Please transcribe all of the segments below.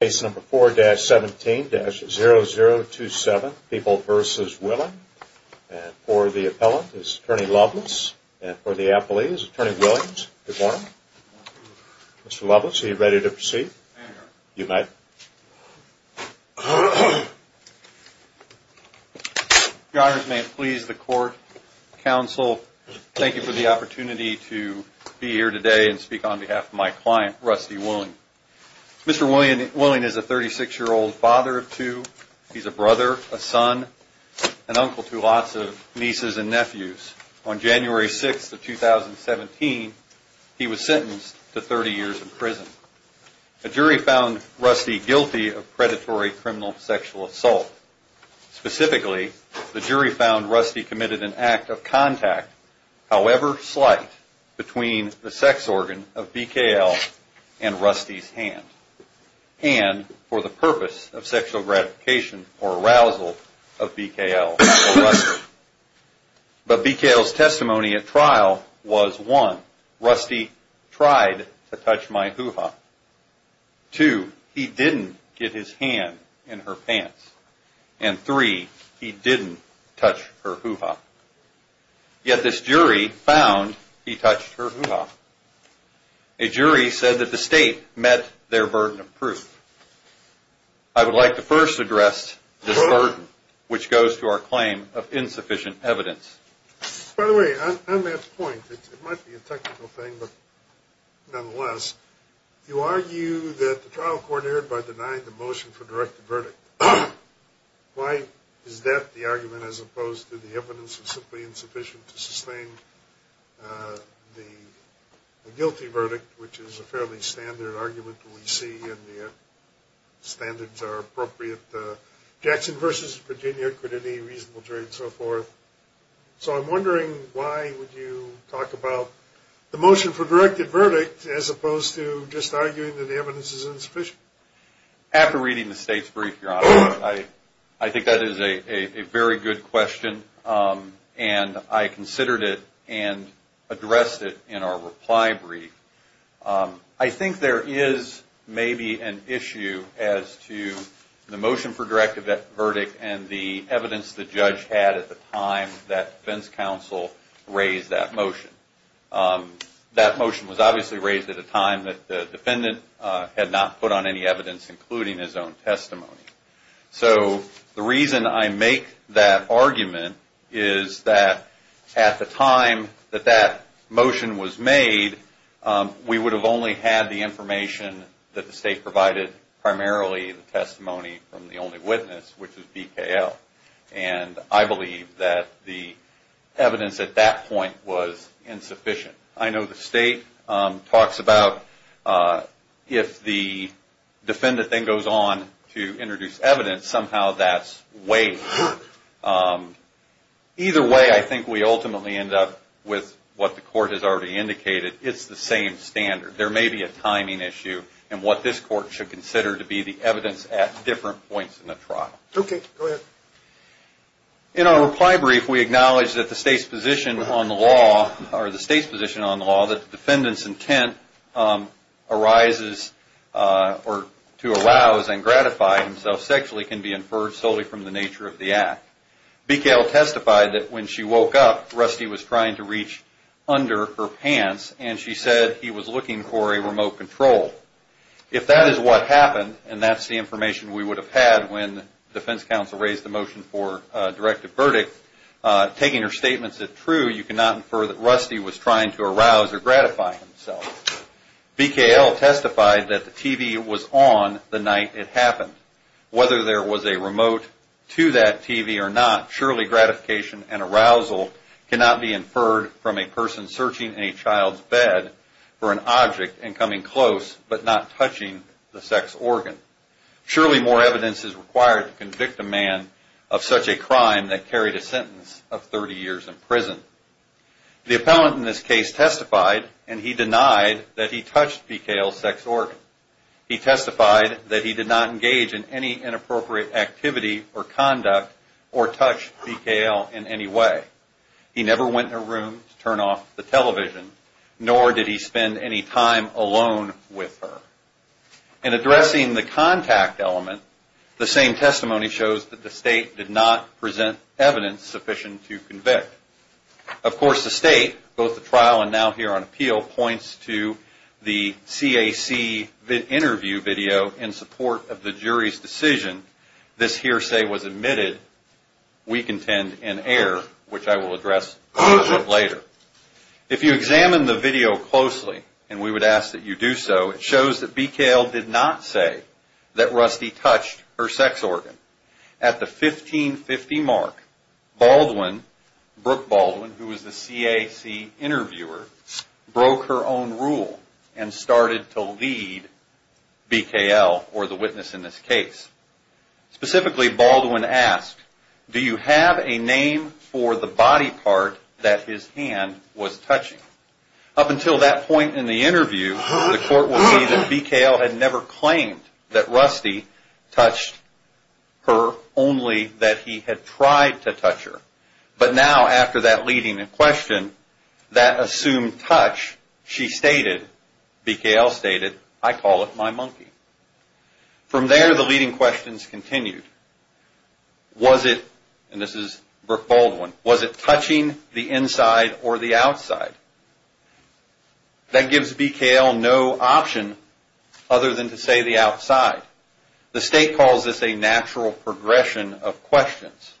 Case number 4-17-0027, People v. Willing, and for the appellant is Attorney Lovelace, and for the appellee is Attorney Willings. Good morning. Mr. Lovelace, are you ready to proceed? I am, Your Honor. You may. Your Honors, may it please the Court, Counsel, thank you for the opportunity to be here today and speak on behalf of my client, Rusty Willing. Mr. Willing is a 36-year-old father of two. He's a brother, a son, an uncle to lots of nieces and nephews. On January 6th of 2017, he was sentenced to 30 years in prison. A jury found Rusty guilty of predatory criminal sexual assault. Specifically, the jury found Rusty committed an act of contact, however slight, between the sex organ of BKL and Rusty's hand, and for the purpose of sexual gratification or arousal of BKL or Rusty. But BKL's testimony at trial was, one, Rusty tried to touch my hoo-ha. Two, he didn't get his hand in her pants. And three, he didn't touch her hoo-ha. Yet this jury found he touched her hoo-ha. A jury said that the state met their burden of proof. I would like to first address this burden, which goes to our claim of insufficient evidence. By the way, on that point, it might be a technical thing, but nonetheless, you argue that the trial court erred by denying the motion for directed verdict. Why is that the argument as opposed to the evidence of simply insufficient to sustain the guilty verdict, which is a fairly standard argument that we see and the standards are appropriate. Jackson versus Virginia, crediting reasonable jury and so forth. So I'm wondering why would you talk about the motion for directed verdict as opposed to just arguing that the evidence is insufficient. After reading the state's brief, Your Honor, I think that is a very good question, and I considered it and addressed it in our reply brief. I think there is maybe an issue as to the motion for directed verdict and the evidence the judge had at the time that defense counsel raised that motion. That motion was obviously raised at a time that the defendant had not put on any evidence, including his own testimony. So the reason I make that argument is that at the time that that motion was made, we would have only had the information that the state provided, primarily the testimony from the only witness, which is BKL. And I believe that the evidence at that point was insufficient. I know the state talks about if the defendant then goes on to introduce evidence, somehow that's wasted. Either way, I think we ultimately end up with what the court has already indicated. It's the same standard. There may be a timing issue in what this court should consider to be the evidence at different points in the trial. Okay, go ahead. In our reply brief, we acknowledge that the state's position on the law, that the defendant's intent arises to arouse and gratify himself sexually can be inferred solely from the nature of the act. BKL testified that when she woke up, Rusty was trying to reach under her pants, and she said he was looking for a remote control. If that is what happened, and that's the information we would have had when the defense counsel raised the motion for a directive verdict, taking her statements as true, you cannot infer that Rusty was trying to arouse or gratify himself. BKL testified that the TV was on the night it happened. Whether there was a remote to that TV or not, surely gratification and arousal cannot be inferred from a person searching a child's bed for an object and coming close but not touching the sex organ. Surely more evidence is required to convict a man of such a crime that carried a sentence of 30 years in prison. The appellant in this case testified, and he denied that he touched BKL's sex organ. He testified that he did not engage in any inappropriate activity or conduct or touch BKL in any way. He never went in her room to turn off the television, nor did he spend any time alone with her. In addressing the contact element, the same testimony shows that the state did not present evidence sufficient to convict. Of course, the state, both the trial and now here on appeal, points to the CAC interview video in support of the jury's decision. This hearsay was admitted, we contend, in error, which I will address later. If you examine the video closely, and we would ask that you do so, it shows that BKL did not say that Rusty touched her sex organ. At the 1550 mark, Baldwin, Brooke Baldwin, who was the CAC interviewer, broke her own rule and started to lead BKL, or the witness in this case. Specifically, Baldwin asked, do you have a name for the body part that his hand was touching? Up until that point in the interview, the court would say that BKL had never claimed that Rusty touched her, only that he had tried to touch her. But now, after that leading question, that assumed touch, she stated, BKL stated, I call it my monkey. From there, the leading questions continued. Was it, and this is Brooke Baldwin, was it touching the inside or the outside? That gives BKL no option other than to say the outside. The state calls this a natural progression of questions.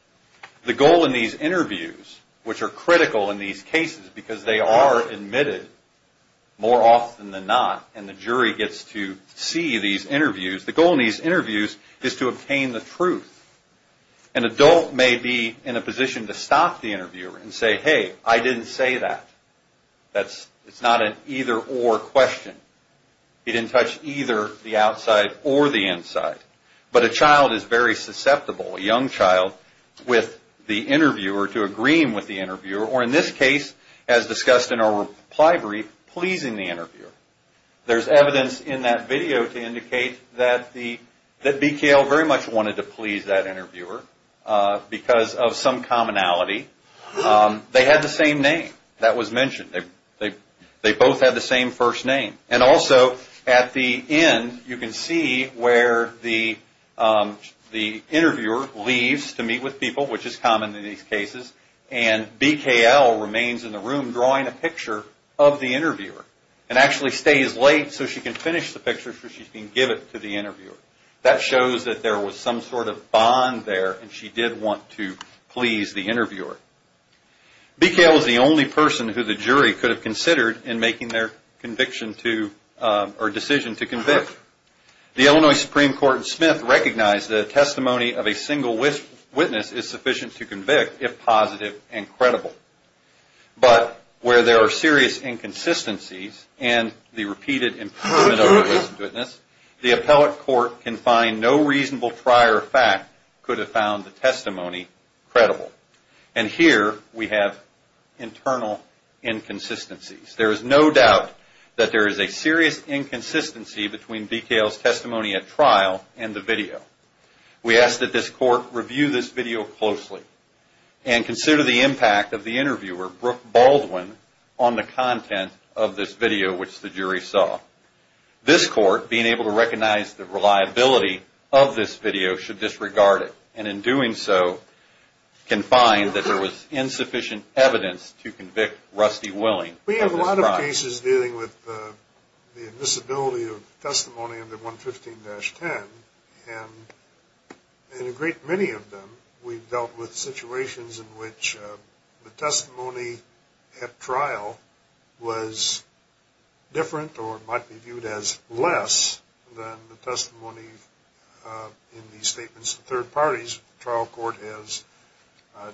The goal in these interviews, which are critical in these cases, because they are admitted more often than not, and the jury gets to see these interviews, the goal in these interviews is to obtain the truth. An adult may be in a position to stop the interviewer and say, hey, I didn't say that. It's not an either or question. He didn't touch either the outside or the inside. But a child is very susceptible, a young child, with the interviewer, to agreeing with the interviewer, or in this case, as discussed in our reply brief, pleasing the interviewer. There's evidence in that video to indicate that BKL very much wanted to please that interviewer because of some commonality. They had the same name that was mentioned. They both had the same first name. And also, at the end, you can see where the interviewer leaves to meet with people, which is common in these cases, and BKL remains in the room drawing a picture of the interviewer and actually stays late so she can finish the picture so she can give it to the interviewer. That shows that there was some sort of bond there and she did want to please the interviewer. BKL is the only person who the jury could have considered in making their decision to convict. The Illinois Supreme Court in Smith recognized that a testimony of a single witness is sufficient to convict if positive and credible. But where there are serious inconsistencies and the repeated improvement of the witness, the appellate court can find no reasonable prior fact could have found the testimony credible. And here we have internal inconsistencies. There is no doubt that there is a serious inconsistency between BKL's testimony at trial and the video. We ask that this court review this video closely and consider the impact of the interviewer, Brooke Baldwin, on the content of this video, which the jury saw. This court, being able to recognize the reliability of this video, should disregard it and in doing so can find that there was insufficient evidence to convict Rusty Willing of this crime. We have a lot of cases dealing with the invisibility of testimony under 115-10 and in a great many of them we've dealt with situations in which the testimony at trial was different or might be viewed as less than the testimony in the statements of third parties. The trial court has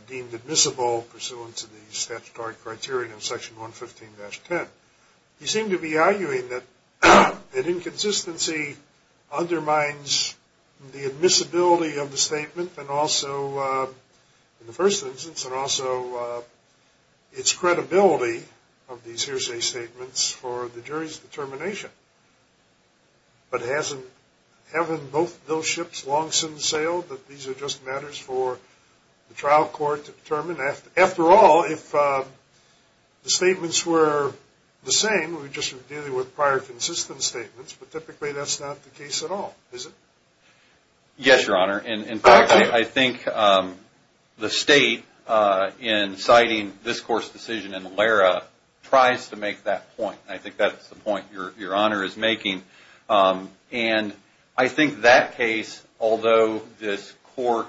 deemed admissible pursuant to the statutory criteria of section 115-10. You seem to be arguing that an inconsistency undermines the admissibility of the statement in the first instance and also its credibility of these hearsay statements for the jury's determination. But haven't both those ships long since sailed that these are just matters for the trial court to determine? After all, if the statements were the same, we'd just be dealing with prior consistent statements, but typically that's not the case at all, is it? Yes, Your Honor. In fact, I think the state in citing this court's decision in ALERA tries to make that point. I think that's the point Your Honor is making. And I think that case, although this court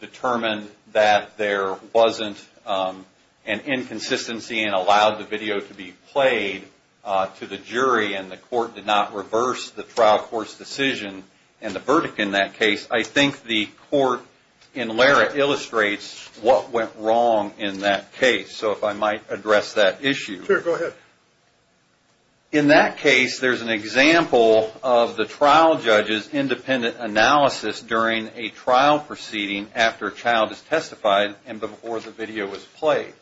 determined that there wasn't an inconsistency and allowed the video to be played to the jury and the court did not reverse the trial court's decision and the verdict in that case, I think the court in ALERA illustrates what went wrong in that case. So if I might address that issue. Sure, go ahead. In that case, there's an example of the trial judge's independent analysis during a trial proceeding after a child is testified and before the video was played.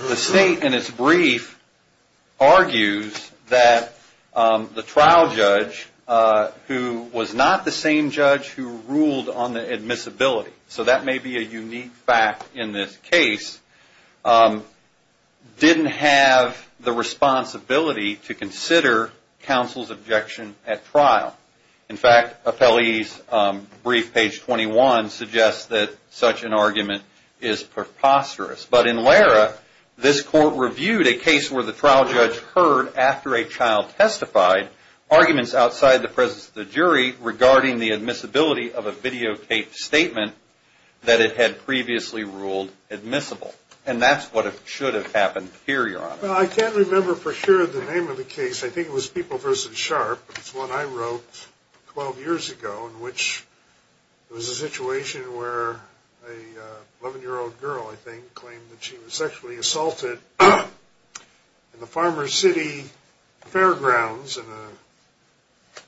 The state in its brief argues that the trial judge, who was not the same judge who ruled on the admissibility, so that may be a unique fact in this case, didn't have the responsibility to consider counsel's objection at trial. In fact, appellee's brief, page 21, suggests that such an argument is preposterous. But in ALERA, this court reviewed a case where the trial judge heard after a child testified arguments outside the presence of the jury regarding the admissibility of a videotaped statement that it had previously ruled admissible. And that's what should have happened here, Your Honor. Well, I can't remember for sure the name of the case. I think it was People v. Sharp. It's one I wrote 12 years ago in which there was a situation where an 11-year-old girl, I think, claimed that she was sexually assaulted in the Farmer City Fairgrounds in a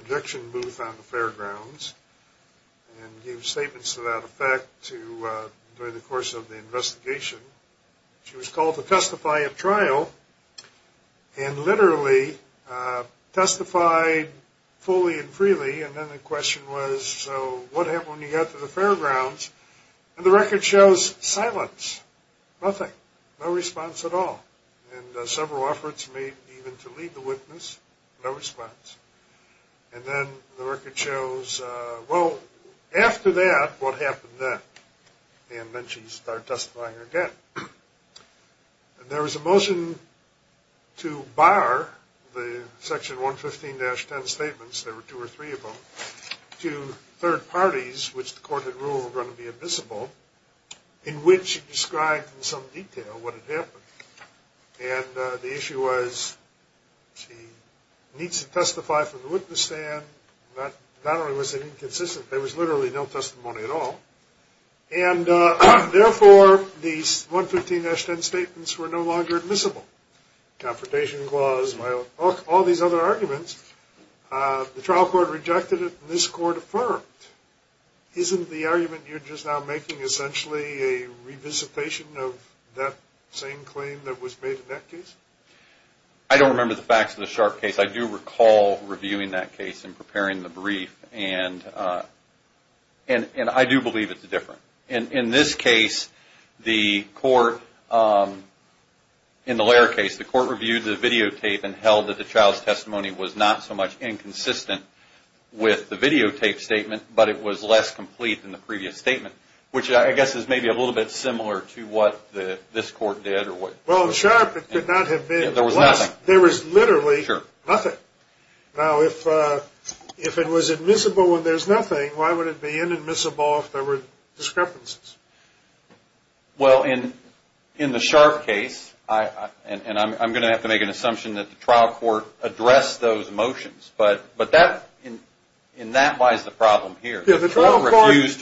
projection booth on the fairgrounds and gave statements to that effect during the course of the investigation. She was called to testify at trial and literally testified fully and freely. And then the question was, so what happened when you got to the fairgrounds? And the record shows silence, nothing, no response at all. And several efforts made even to lead the witness, no response. And then the record shows, well, after that, what happened then? And then she started testifying again. And there was a motion to bar the Section 115-10 statements, there were two or three of them, to third parties, which the court had ruled were going to be admissible, in which it described in some detail what had happened. And the issue was she needs to testify from the witness stand. Not only was it inconsistent, there was literally no testimony at all. And therefore, these 115-10 statements were no longer admissible. Confrontation clause, all these other arguments, the trial court rejected it and this court affirmed. Isn't the argument you're just now making essentially a revisitation of that same claim that was made in that case? I don't remember the facts of the Sharp case. I do recall reviewing that case and preparing the brief, and I do believe it's different. In this case, the court, in the Lehrer case, the court reviewed the videotape and held that the child's testimony was not so much inconsistent with the videotape statement, but it was less complete than the previous statement, which I guess is maybe a little bit similar to what this court did. Well, in Sharp, it could not have been less. There was nothing. There was literally nothing. Now, if it was admissible and there's nothing, why would it be inadmissible if there were discrepancies? Well, in the Sharp case, and I'm going to have to make an assumption that the trial court addressed those motions, but in that lies the problem here. The trial court refused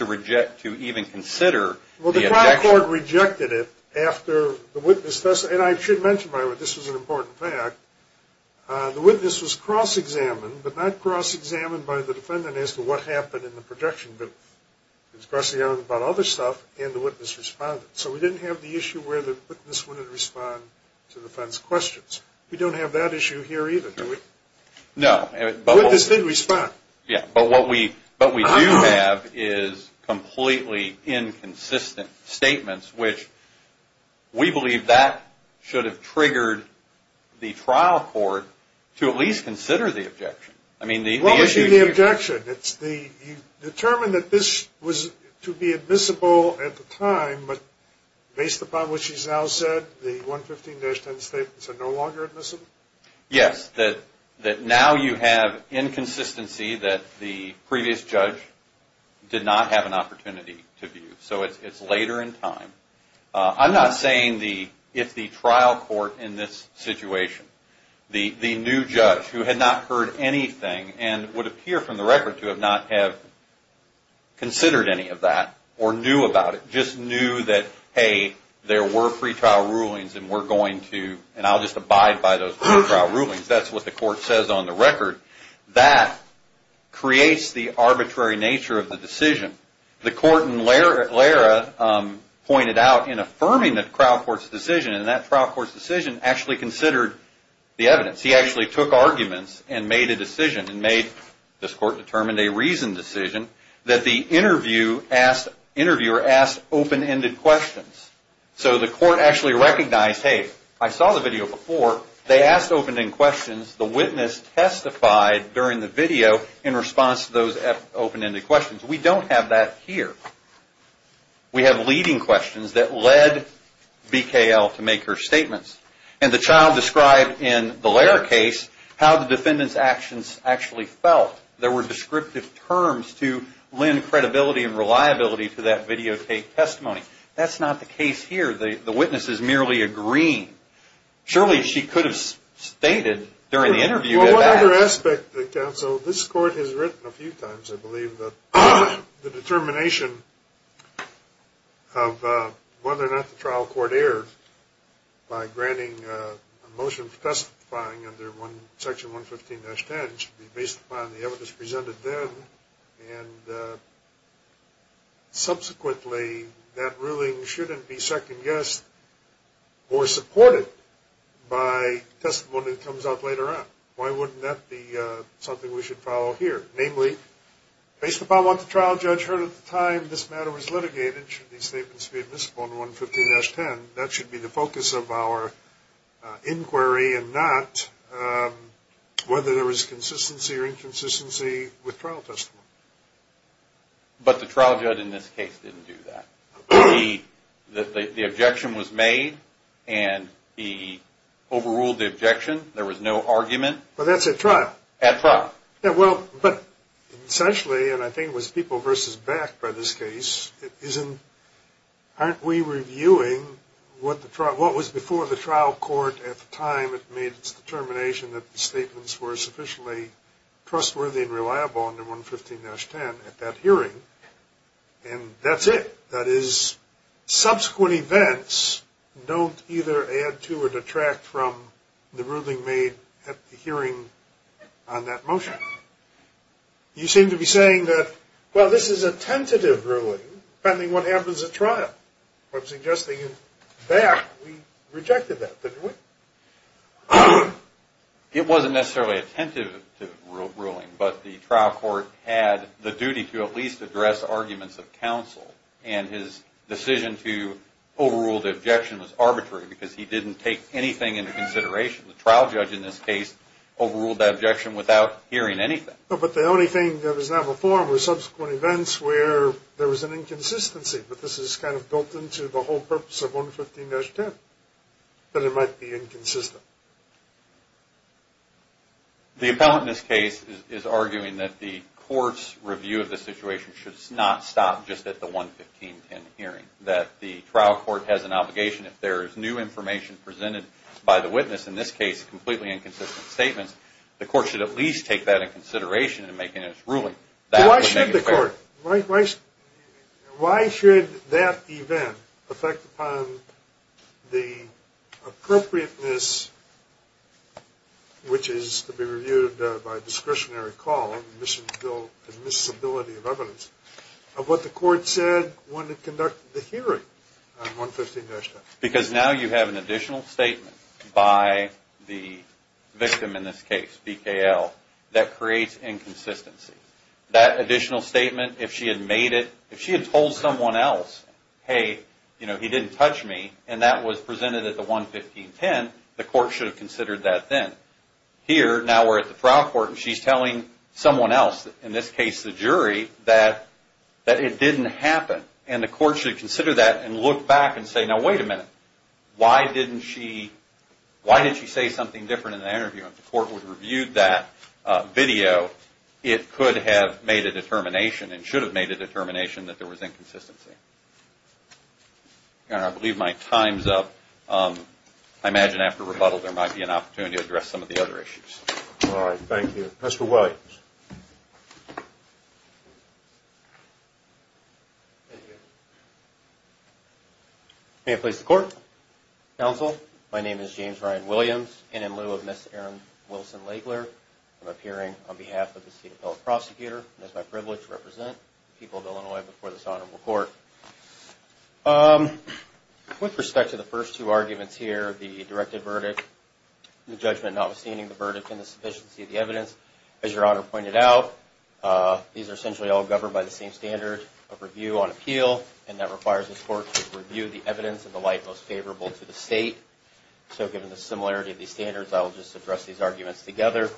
to even consider the objection. The trial court rejected it after the witness, and I should mention, by the way, this was an important fact, the witness was cross-examined, but not cross-examined by the defendant as to what happened in the projection, but was crossing out about other stuff, and the witness responded. So we didn't have the issue where the witness wouldn't respond to the defense questions. We don't have that issue here either, do we? No. The witness did respond. Yeah, but what we do have is completely inconsistent statements, which we believe that should have triggered the trial court to at least consider the objection. I mean, the issue here – What would be the objection? You determined that this was to be admissible at the time, but based upon what she's now said, the 115-10 statements are no longer admissible? Yes, that now you have inconsistency that the previous judge did not have an opportunity to view. So it's later in time. I'm not saying if the trial court in this situation, the new judge who had not heard anything and would appear from the record to not have considered any of that or knew about it, or just knew that, hey, there were pretrial rulings and we're going to, and I'll just abide by those pretrial rulings. That's what the court says on the record. That creates the arbitrary nature of the decision. The court in Lara pointed out in affirming the trial court's decision, and that trial court's decision actually considered the evidence. He actually took arguments and made a decision, this court determined a reasoned decision, that the interviewer asked open-ended questions. So the court actually recognized, hey, I saw the video before. They asked open-ended questions. The witness testified during the video in response to those open-ended questions. We don't have that here. We have leading questions that led BKL to make her statements. And the child described in the Lara case how the defendant's actions actually felt. There were descriptive terms to lend credibility and reliability to that videotape testimony. That's not the case here. The witness is merely agreeing. Surely she could have stated during the interview that that. Well, one other aspect that counsel, this court has written a few times, I believe, the determination of whether or not the trial court erred by granting a motion for testifying under Section 115-10 should be based upon the evidence presented then. Subsequently, that ruling shouldn't be second-guessed or supported by testimony that comes out later on. Why wouldn't that be something we should follow here? Namely, based upon what the trial judge heard at the time this matter was litigated, should these statements be admissible under 115-10? That should be the focus of our inquiry and not whether there was consistency or inconsistency with trial testimony. But the trial judge in this case didn't do that. The objection was made, and he overruled the objection. But that's at trial. At trial. Yeah, well, but essentially, and I think it was people versus back by this case, aren't we reviewing what was before the trial court at the time it made its determination that the statements were sufficiently trustworthy and reliable under 115-10 at that hearing? And that's it. That is, subsequent events don't either add to or detract from the ruling made at the hearing on that motion. You seem to be saying that, well, this is a tentative ruling, depending on what happens at trial. I'm suggesting that we rejected that, didn't we? It wasn't necessarily a tentative ruling, but the trial court had the duty to at least address arguments of counsel, and his decision to overrule the objection was arbitrary because he didn't take anything into consideration. The trial judge in this case overruled the objection without hearing anything. But the only thing that was not before were subsequent events where there was an inconsistency, but this is kind of built into the whole purpose of 115-10, that it might be inconsistent. The appellant in this case is arguing that the court's review of the situation should not stop just at the 115-10 hearing, that the trial court has an obligation. If there is new information presented by the witness, in this case completely inconsistent statements, the court should at least take that into consideration in making its ruling. Why should the court? Why should that event affect upon the appropriateness, which is to be reviewed by discretionary call and admissibility of evidence, of what the court said when it conducted the hearing on 115-10? Because now you have an additional statement by the victim in this case, BKL, that creates inconsistency. That additional statement, if she had made it, if she had told someone else, hey, you know, he didn't touch me, and that was presented at the 115-10, the court should have considered that then. Here, now we're at the trial court, and she's telling someone else, in this case the jury, that it didn't happen, and the court should consider that and look back and say, now wait a minute, why didn't she, why did she say something different in the interview? If the court would have reviewed that video, it could have made a determination and should have made a determination that there was inconsistency. And I believe my time's up. I imagine after rebuttal there might be an opportunity to address some of the other issues. All right, thank you. Mr. Williams. May it please the court, counsel, my name is James Ryan Williams, and in lieu of Ms. Erin Wilson-Lagler, I'm appearing on behalf of the state appellate prosecutor, and it's my privilege to represent the people of Illinois before this honorable court. With respect to the first two arguments here, the directed verdict, the judgment notwithstanding the verdict and the sufficiency of the evidence, as your honor pointed out, these are essentially all governed by the same standard of review on appeal, and that requires the court to review the evidence in the light most favorable to the state. So given the similarity of these standards, I will just address these arguments together.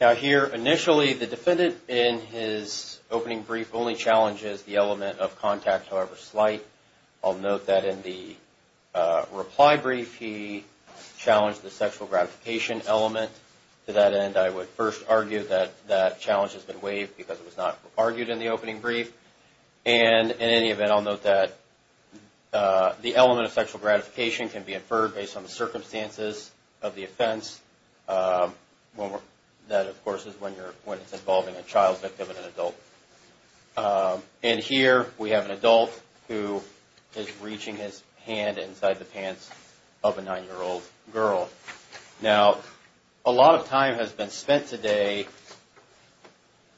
Now here, initially, the defendant in his opening brief only challenges the element of contact, however slight. I'll note that in the reply brief, he challenged the sexual gratification element. To that end, I would first argue that that challenge has been waived because it was not argued in the opening brief. And in any event, I'll note that the element of sexual gratification can be inferred based on the circumstances of the offense. That, of course, is when it's involving a child victim and an adult. And here, we have an adult who is reaching his hand inside the pants of a nine-year-old girl. Now, a lot of time has been spent today.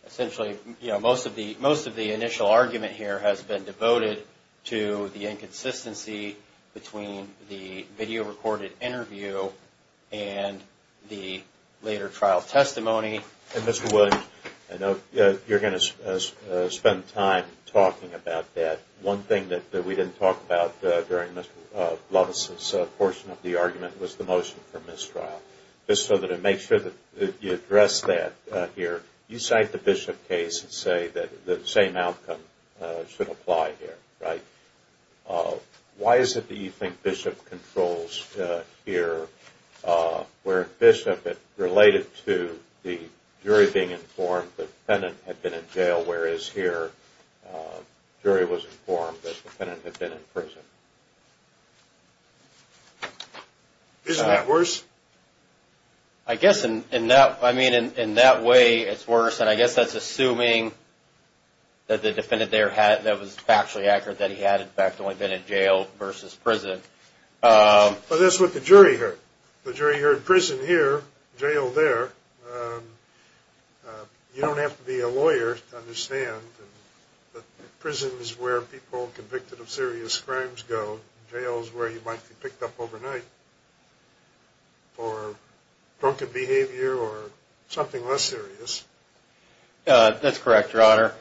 Essentially, most of the initial argument here has been devoted to the inconsistency between the video-recorded interview and the later trial testimony. And Mr. Williams, I know you're going to spend time talking about that. One thing that we didn't talk about during Mr. Loves' portion of the argument was the motion for mistrial. Just so that it makes sure that you address that here, you cite the Bishop case and say that the same outcome should apply here, right? Why is it that you think Bishop controls here, where Bishop, it related to the jury being informed that the defendant had been in jail, whereas here, the jury was informed that the defendant had been in prison? Isn't that worse? I guess in that way, it's worse. And I guess that's assuming that the defendant there was factually accurate that he had, in fact, only been in jail versus prison. But that's what the jury heard. The jury heard prison here, jail there. You don't have to be a lawyer to understand that prison is where people convicted of serious crimes go. Jail is where you might be picked up overnight for broken behavior or something less serious. That's correct, Your Honor.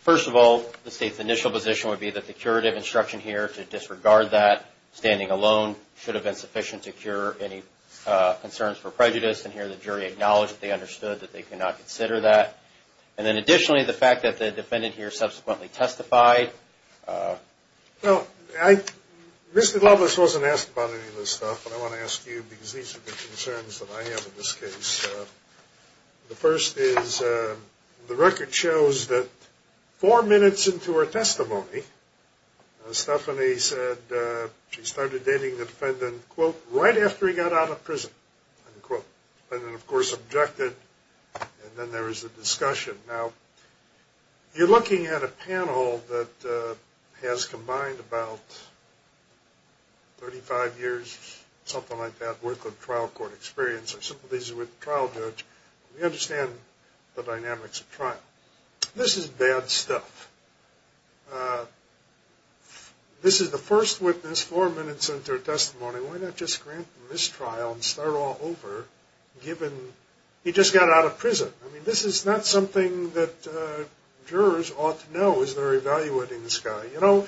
First of all, the state's initial position would be that the curative instruction here to disregard that, standing alone, should have been sufficient to cure any concerns for prejudice. And here, the jury acknowledged that they understood that they could not consider that. And then additionally, the fact that the defendant here subsequently testified. Well, Mr. Loveless wasn't asked about any of this stuff, but I want to ask you because these are the concerns that I have in this case. The first is the record shows that four minutes into her testimony, Stephanie said she started dating the defendant, quote, right after he got out of prison, unquote. The defendant, of course, objected. And then there was a discussion. Now, you're looking at a panel that has combined about 35 years, something like that, worth of trial court experience or sympathies with the trial judge. We understand the dynamics of trial. This is bad stuff. This is the first witness four minutes into her testimony. Why not just grant them this trial and start all over, given he just got out of prison? I mean, this is not something that jurors ought to know as they're evaluating this guy. You know,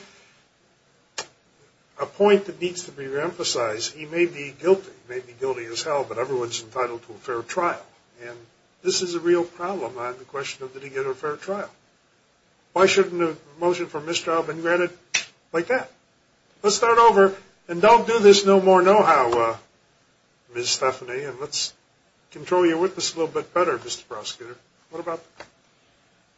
a point that needs to be reemphasized, he may be guilty. He may be guilty as hell, but everyone's entitled to a fair trial. And this is a real problem on the question of did he get a fair trial. Why shouldn't a motion for mistrial have been granted like that? Let's start over. And don't do this no more know-how, Ms. Stephanie. And let's control your witness a little bit better, Mr. Prosecutor. What about that?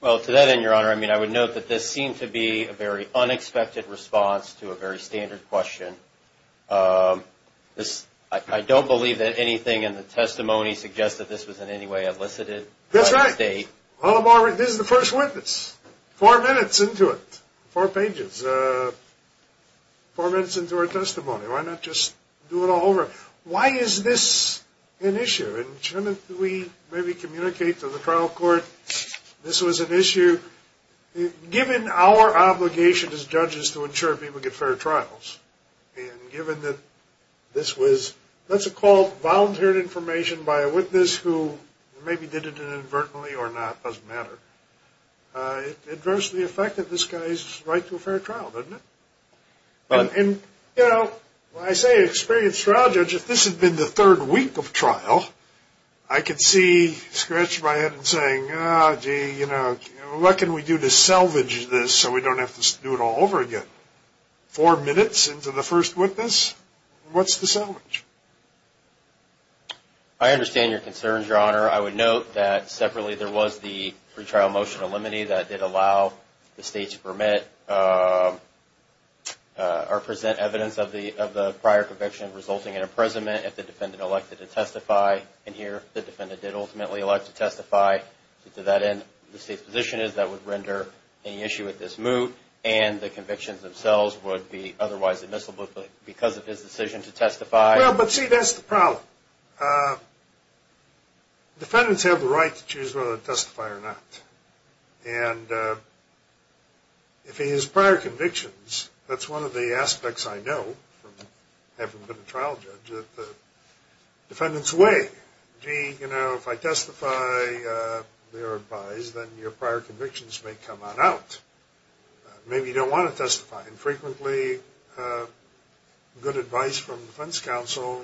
Well, to that end, Your Honor, I mean, I would note that this seemed to be a very unexpected response to a very standard question. I don't believe that anything in the testimony suggests that this was in any way elicited by the state. That's right. This is the first witness, four minutes into it, four pages, four minutes into her testimony. Why not just do it all over? Why is this an issue? And shouldn't we maybe communicate to the trial court this was an issue? Given our obligation as judges to ensure people get fair trials, and given that this was, let's call it, volunteered information by a witness who maybe did it inadvertently or not, doesn't matter, it adversely affected this guy's right to a fair trial, doesn't it? And, you know, when I say experienced trial judge, if this had been the third week of trial, I could see scratching my head and saying, oh, gee, you know, what can we do to salvage this so we don't have to do it all over again? Four minutes into the first witness, what's the salvage? I understand your concerns, Your Honor. I would note that separately there was the pre-trial motion of limine that did allow the state to permit or present evidence of the prior conviction resulting in imprisonment if the defendant elected to testify. And here the defendant did ultimately elect to testify. To that end, the state's position is that would render any issue with this moot, and the convictions themselves would be otherwise admissible because of his decision to testify. Well, but see, that's the problem. Defendants have the right to choose whether to testify or not. And if he has prior convictions, that's one of the aspects I know from having been a trial judge, that the defendants weigh, gee, you know, if I testify, they're advised, then your prior convictions may come on out. Maybe you don't want to testify. And frequently good advice from defense counsel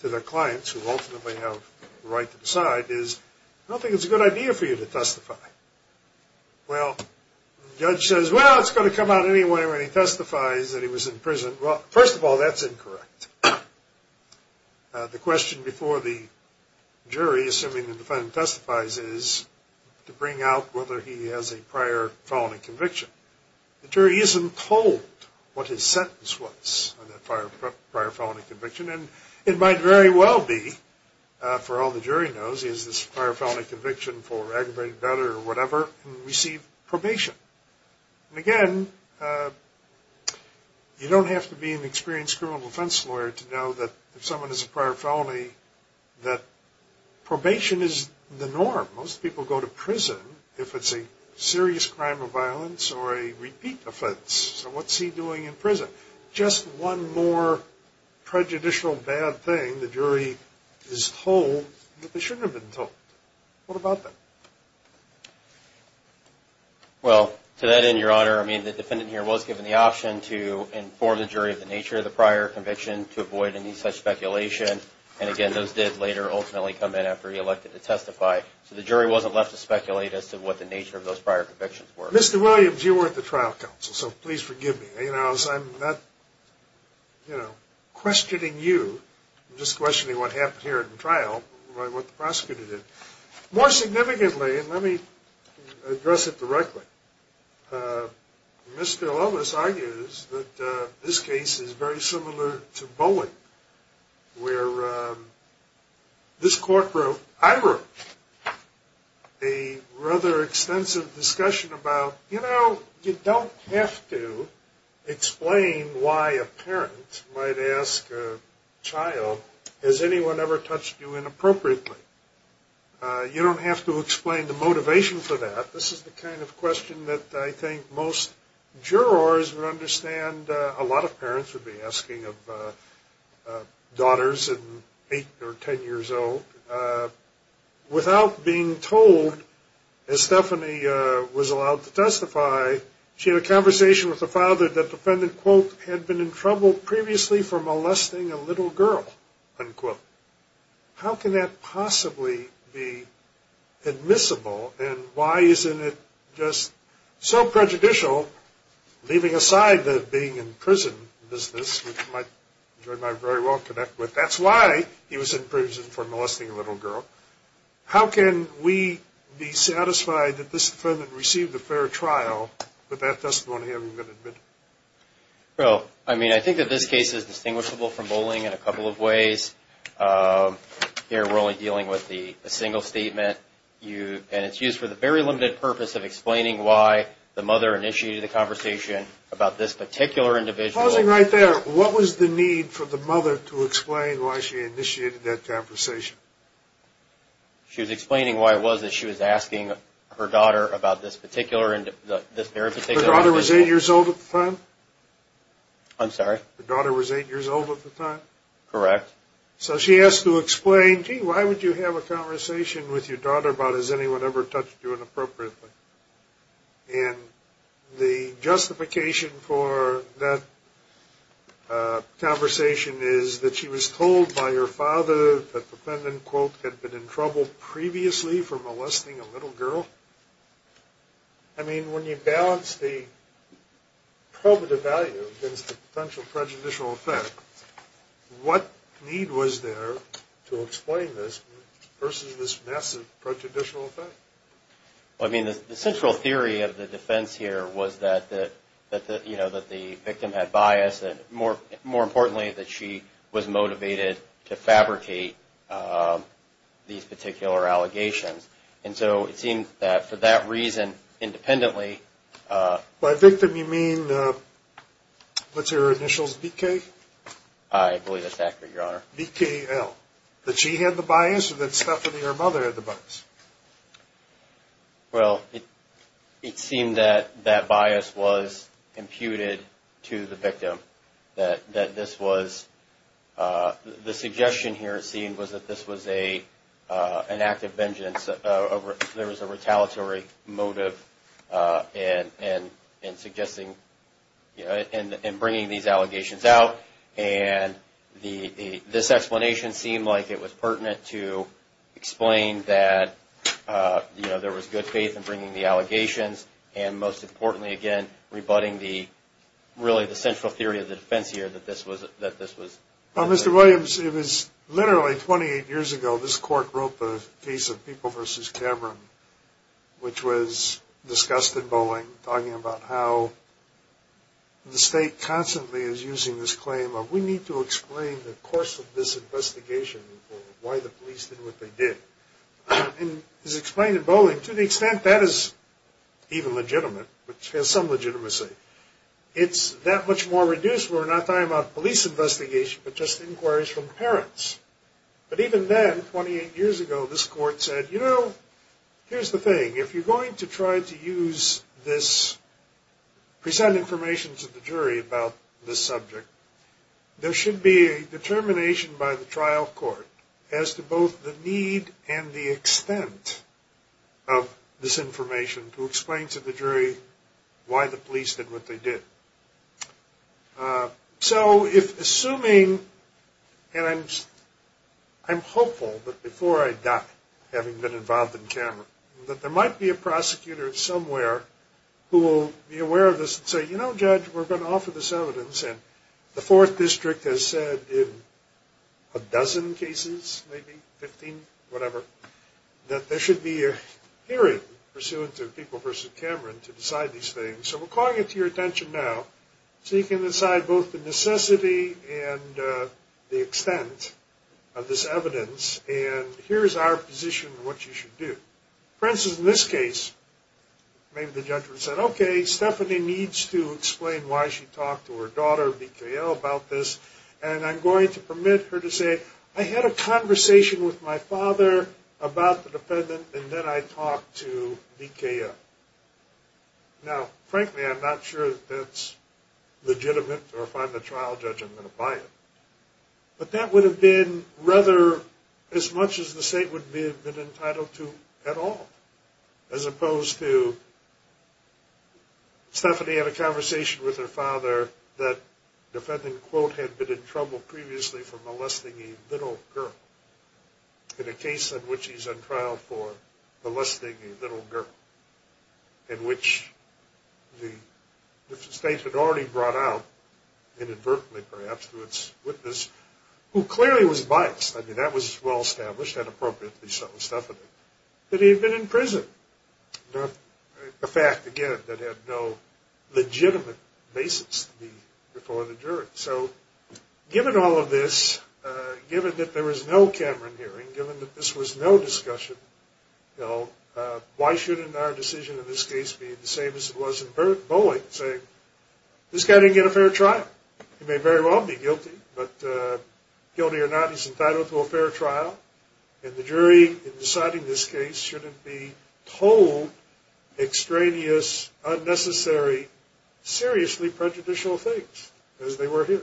to their clients, who ultimately have the right to decide, is I don't think it's a good idea for you to testify. Well, the judge says, well, it's going to come out anyway when he testifies that he was in prison. Well, first of all, that's incorrect. The question before the jury, assuming the defendant testifies, is to bring out whether he has a prior felony conviction. The jury isn't told what his sentence was on that prior felony conviction. And it might very well be, for all the jury knows, he has this prior felony conviction for aggravated murder or whatever and received probation. And again, you don't have to be an experienced criminal defense lawyer to know that if someone has a prior felony, that probation is the norm. Most people go to prison if it's a serious crime of violence or a repeat offense. So what's he doing in prison? Just one more prejudicial bad thing, the jury is told that they shouldn't have been told. What about that? Well, to that end, Your Honor, I mean, the defendant here was given the option to inform the jury of the nature of the prior conviction, to avoid any such speculation. And again, those did later ultimately come in after he elected to testify. So the jury wasn't left to speculate as to what the nature of those prior convictions were. Mr. Williams, you were at the trial counsel, so please forgive me. I'm not questioning you. I'm just questioning what happened here at the trial, what the prosecutor did. More significantly, and let me address it directly, Mr. Lovis argues that this case is very similar to Bowen, where this court wrote, I wrote, a rather extensive discussion about, you know, you don't have to explain why a parent might ask a child, has anyone ever touched you inappropriately? You don't have to explain the motivation for that. This is the kind of question that I think most jurors would understand a lot of parents would be asking of daughters at eight or ten years old. Without being told, as Stephanie was allowed to testify, she had a conversation with the father that the defendant, quote, had been in trouble previously for molesting a little girl, unquote. How can that possibly be admissible, and why isn't it just so prejudicial, leaving aside the being in prison business, which you and I very well connect with. That's why he was in prison for molesting a little girl. How can we be satisfied that this defendant received a fair trial with that testimony having been admitted? Well, I mean, I think that this case is distinguishable from Bowling in a couple of ways. Here we're only dealing with a single statement, and it's used for the very limited purpose of explaining why the mother initiated the conversation about this particular individual. Pausing right there, what was the need for the mother to explain why she initiated that conversation? She was explaining why it was that she was asking her daughter about this particular individual. Her daughter was eight years old at the time? I'm sorry? Her daughter was eight years old at the time? Correct. So she asked to explain, gee, why would you have a conversation with your daughter about, has anyone ever touched you inappropriately? And the justification for that conversation is that she was told by her father that the defendant, quote, had been in trouble previously for molesting a little girl? I mean, when you balance the probative value against the potential prejudicial effect, what need was there to explain this versus this massive prejudicial effect? I mean, the central theory of the defense here was that the victim had bias, and more importantly, that she was motivated to fabricate these particular allegations. And so it seems that for that reason, independently. By victim you mean, what's her initials, BK? I believe that's accurate, Your Honor. BKL. That she had the bias or that Stephanie, her mother, had the bias? Well, it seemed that that bias was imputed to the victim, that this was, the suggestion here it seemed was that this was an act of vengeance. There was a retaliatory motive in suggesting, in bringing these allegations out, and this explanation seemed like it was pertinent to explain that, you know, there was good faith in bringing the allegations, and most importantly, again, rebutting really the central theory of the defense here, that this was... Well, Mr. Williams, it was literally 28 years ago, this court wrote the case of People v. Cameron, which was discussed in Bowling, talking about how the state constantly is using this claim of, we need to explain the course of this investigation, or why the police did what they did. And as explained in Bowling, to the extent that is even legitimate, which has some legitimacy, it's that much more reduced when we're not talking about police investigation, but just inquiries from parents. But even then, 28 years ago, this court said, you know, here's the thing. If you're going to try to use this, present information to the jury about this subject, there should be a determination by the trial court as to both the need and the extent of this information to explain to the jury why the police did what they did. So if assuming, and I'm hopeful that before I die, having been involved in Cameron, that there might be a prosecutor somewhere who will be aware of this and say, you know, Judge, we're going to offer this evidence, and the Fourth District has said in a dozen cases, maybe 15, whatever, that there should be a hearing pursuant to People v. Cameron to decide these things. So we're calling it to your attention now so you can decide both the necessity and the extent of this evidence, and here's our position on what you should do. For instance, in this case, maybe the judge would have said, okay, Stephanie needs to explain why she talked to her daughter, BKL, about this, and I'm going to permit her to say, I had a conversation with my father about the defendant, and then I talked to BKL. Now, frankly, I'm not sure that that's legitimate, or if I'm the trial judge, I'm going to buy it, but that would have been rather as much as the state would have been entitled to at all, as opposed to Stephanie had a conversation with her father that the defendant, quote, had been in trouble previously for molesting a little girl, in a case in which he's on trial for molesting a little girl, in which the state had already brought out, inadvertently perhaps, to its witness, who clearly was biased. I mean, that was well established and appropriately so, Stephanie, that he had been in prison, a fact, again, that had no legitimate basis to be before the jury. So, given all of this, given that there was no Cameron hearing, given that this was no discussion, why shouldn't our decision in this case be the same as it was in Bowling, saying, this guy didn't get a fair trial. He may very well be guilty, but guilty or not, he's entitled to a fair trial, and the jury, in deciding this case, shouldn't be told extraneous, unnecessary, seriously prejudicial things, as they were here.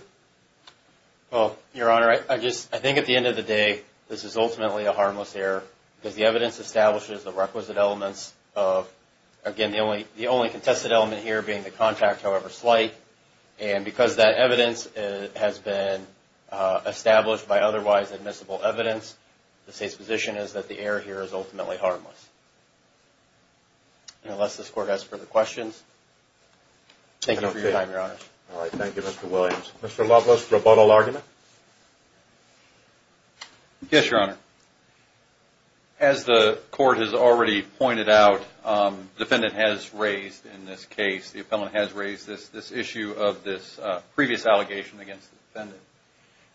Well, Your Honor, I think at the end of the day, this is ultimately a harmless error, because the evidence establishes the requisite elements of, again, the only contested element here being the contact, however slight, and because that evidence has been established by otherwise admissible evidence, the state's position is that the error here is ultimately harmless. Unless this Court has further questions. Thank you for your time, Your Honor. All right. Thank you, Mr. Williams. Mr. Loveless, rebuttal argument? Yes, Your Honor. As the Court has already pointed out, the defendant has raised in this case, the appellant has raised this issue of this previous allegation against the defendant,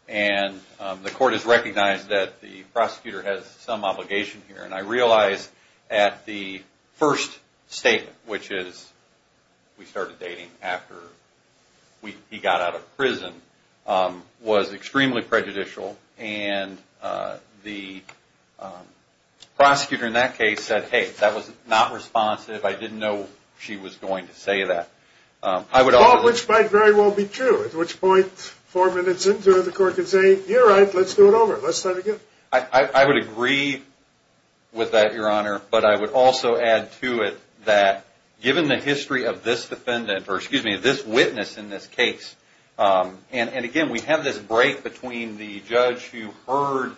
and the Court has recognized that the prosecutor has some obligation here, and I realize at the first statement, which is we started dating after he got out of prison, was extremely prejudicial, and the prosecutor in that case said, hey, that was not responsive, I didn't know she was going to say that. Which might very well be true, at which point, four minutes into it, the Court can say, you're right, let's do it over, let's start again. I would agree with that, Your Honor, but I would also add to it that, given the history of this witness in this case, and again, we have this break between the judge who heard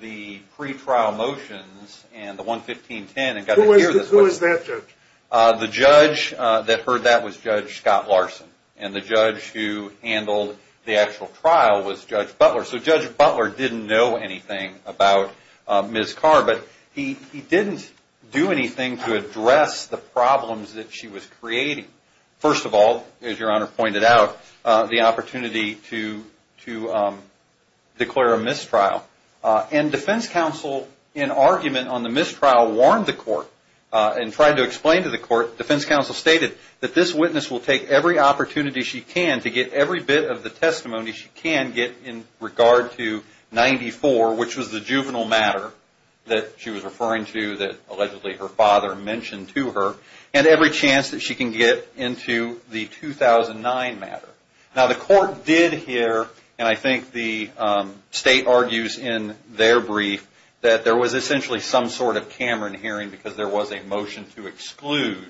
the pre-trial motions and the 11510. Who was that judge? The judge that heard that was Judge Scott Larson, and the judge who handled the actual trial was Judge Butler. So Judge Butler didn't know anything about Ms. Carr, but he didn't do anything to address the problems that she was creating. First of all, as Your Honor pointed out, the opportunity to declare a mistrial, and defense counsel, in argument on the mistrial, warned the Court, and tried to explain to the Court, defense counsel stated, that this witness will take every opportunity she can to get every bit of the testimony she can get in regard to 94, which was the juvenile matter that she was referring to, that allegedly her father mentioned to her, and every chance that she can get into the 2009 matter. Now the Court did hear, and I think the State argues in their brief, that there was essentially some sort of Cameron hearing, because there was a motion to exclude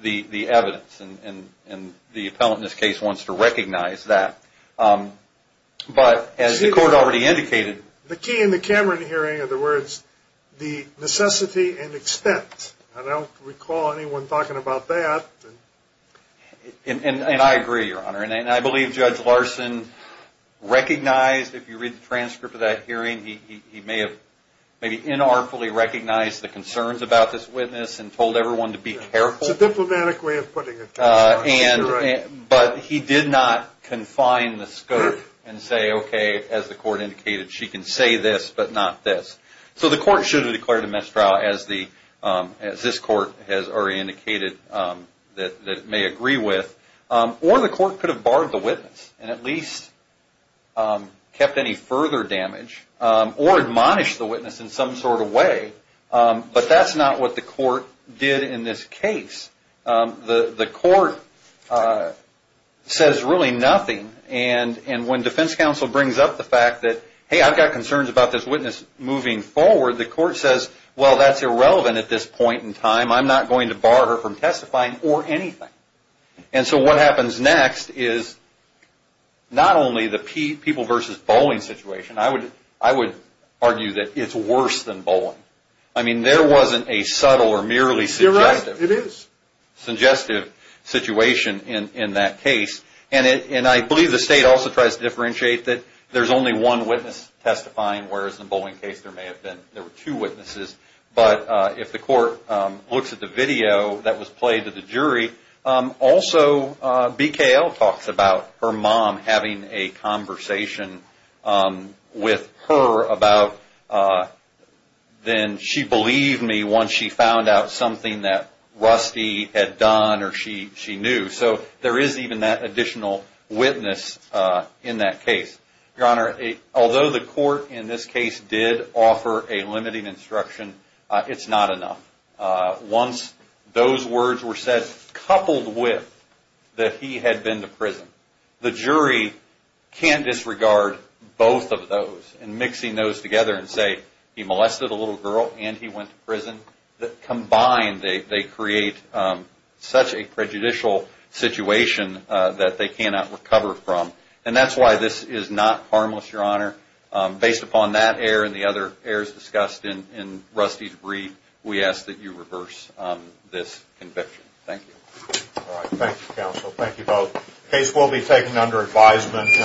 the evidence, and the appellant in this case wants to recognize that. But as the Court already indicated... The key in the Cameron hearing are the words, the necessity and extent. I don't recall anyone talking about that. And I agree, Your Honor, and I believe Judge Larson recognized, if you read the transcript of that hearing, he may have maybe inartfully recognized the concerns about this witness, and told everyone to be careful. It's a diplomatic way of putting it. But he did not confine the scope and say, okay, as the Court indicated, she can say this, but not this. So the Court should have declared a missed trial, as this Court has already indicated that it may agree with. Or the Court could have barred the witness, and at least kept any further damage, or admonished the witness in some sort of way. But that's not what the Court did in this case. The Court says really nothing. And when Defense Counsel brings up the fact that, hey, I've got concerns about this witness moving forward, the Court says, well, that's irrelevant at this point in time. I'm not going to bar her from testifying or anything. And so what happens next is not only the people versus bowling situation. I would argue that it's worse than bowling. I mean, there wasn't a subtle or merely suggestive... It is. ...suggestive situation in that case. And I believe the State also tries to differentiate that there's only one witness testifying, whereas in the bowling case there were two witnesses. But if the Court looks at the video that was played to the jury, also BKL talks about her mom having a conversation with her about, then she believed me once she found out something that Rusty had done or she knew. So there is even that additional witness in that case. Your Honor, although the Court in this case did offer a limiting instruction, it's not enough. Once those words were said coupled with that he had been to prison, the jury can't disregard both of those. And mixing those together and say he molested a little girl and he went to prison, combined they create such a prejudicial situation that they cannot recover from. And that's why this is not harmless, Your Honor. Based upon that error and the other errors discussed in Rusty's brief, we ask that you reverse this conviction. Thank you. All right. Thank you, counsel. Thank you both. The case will be taken under advisement.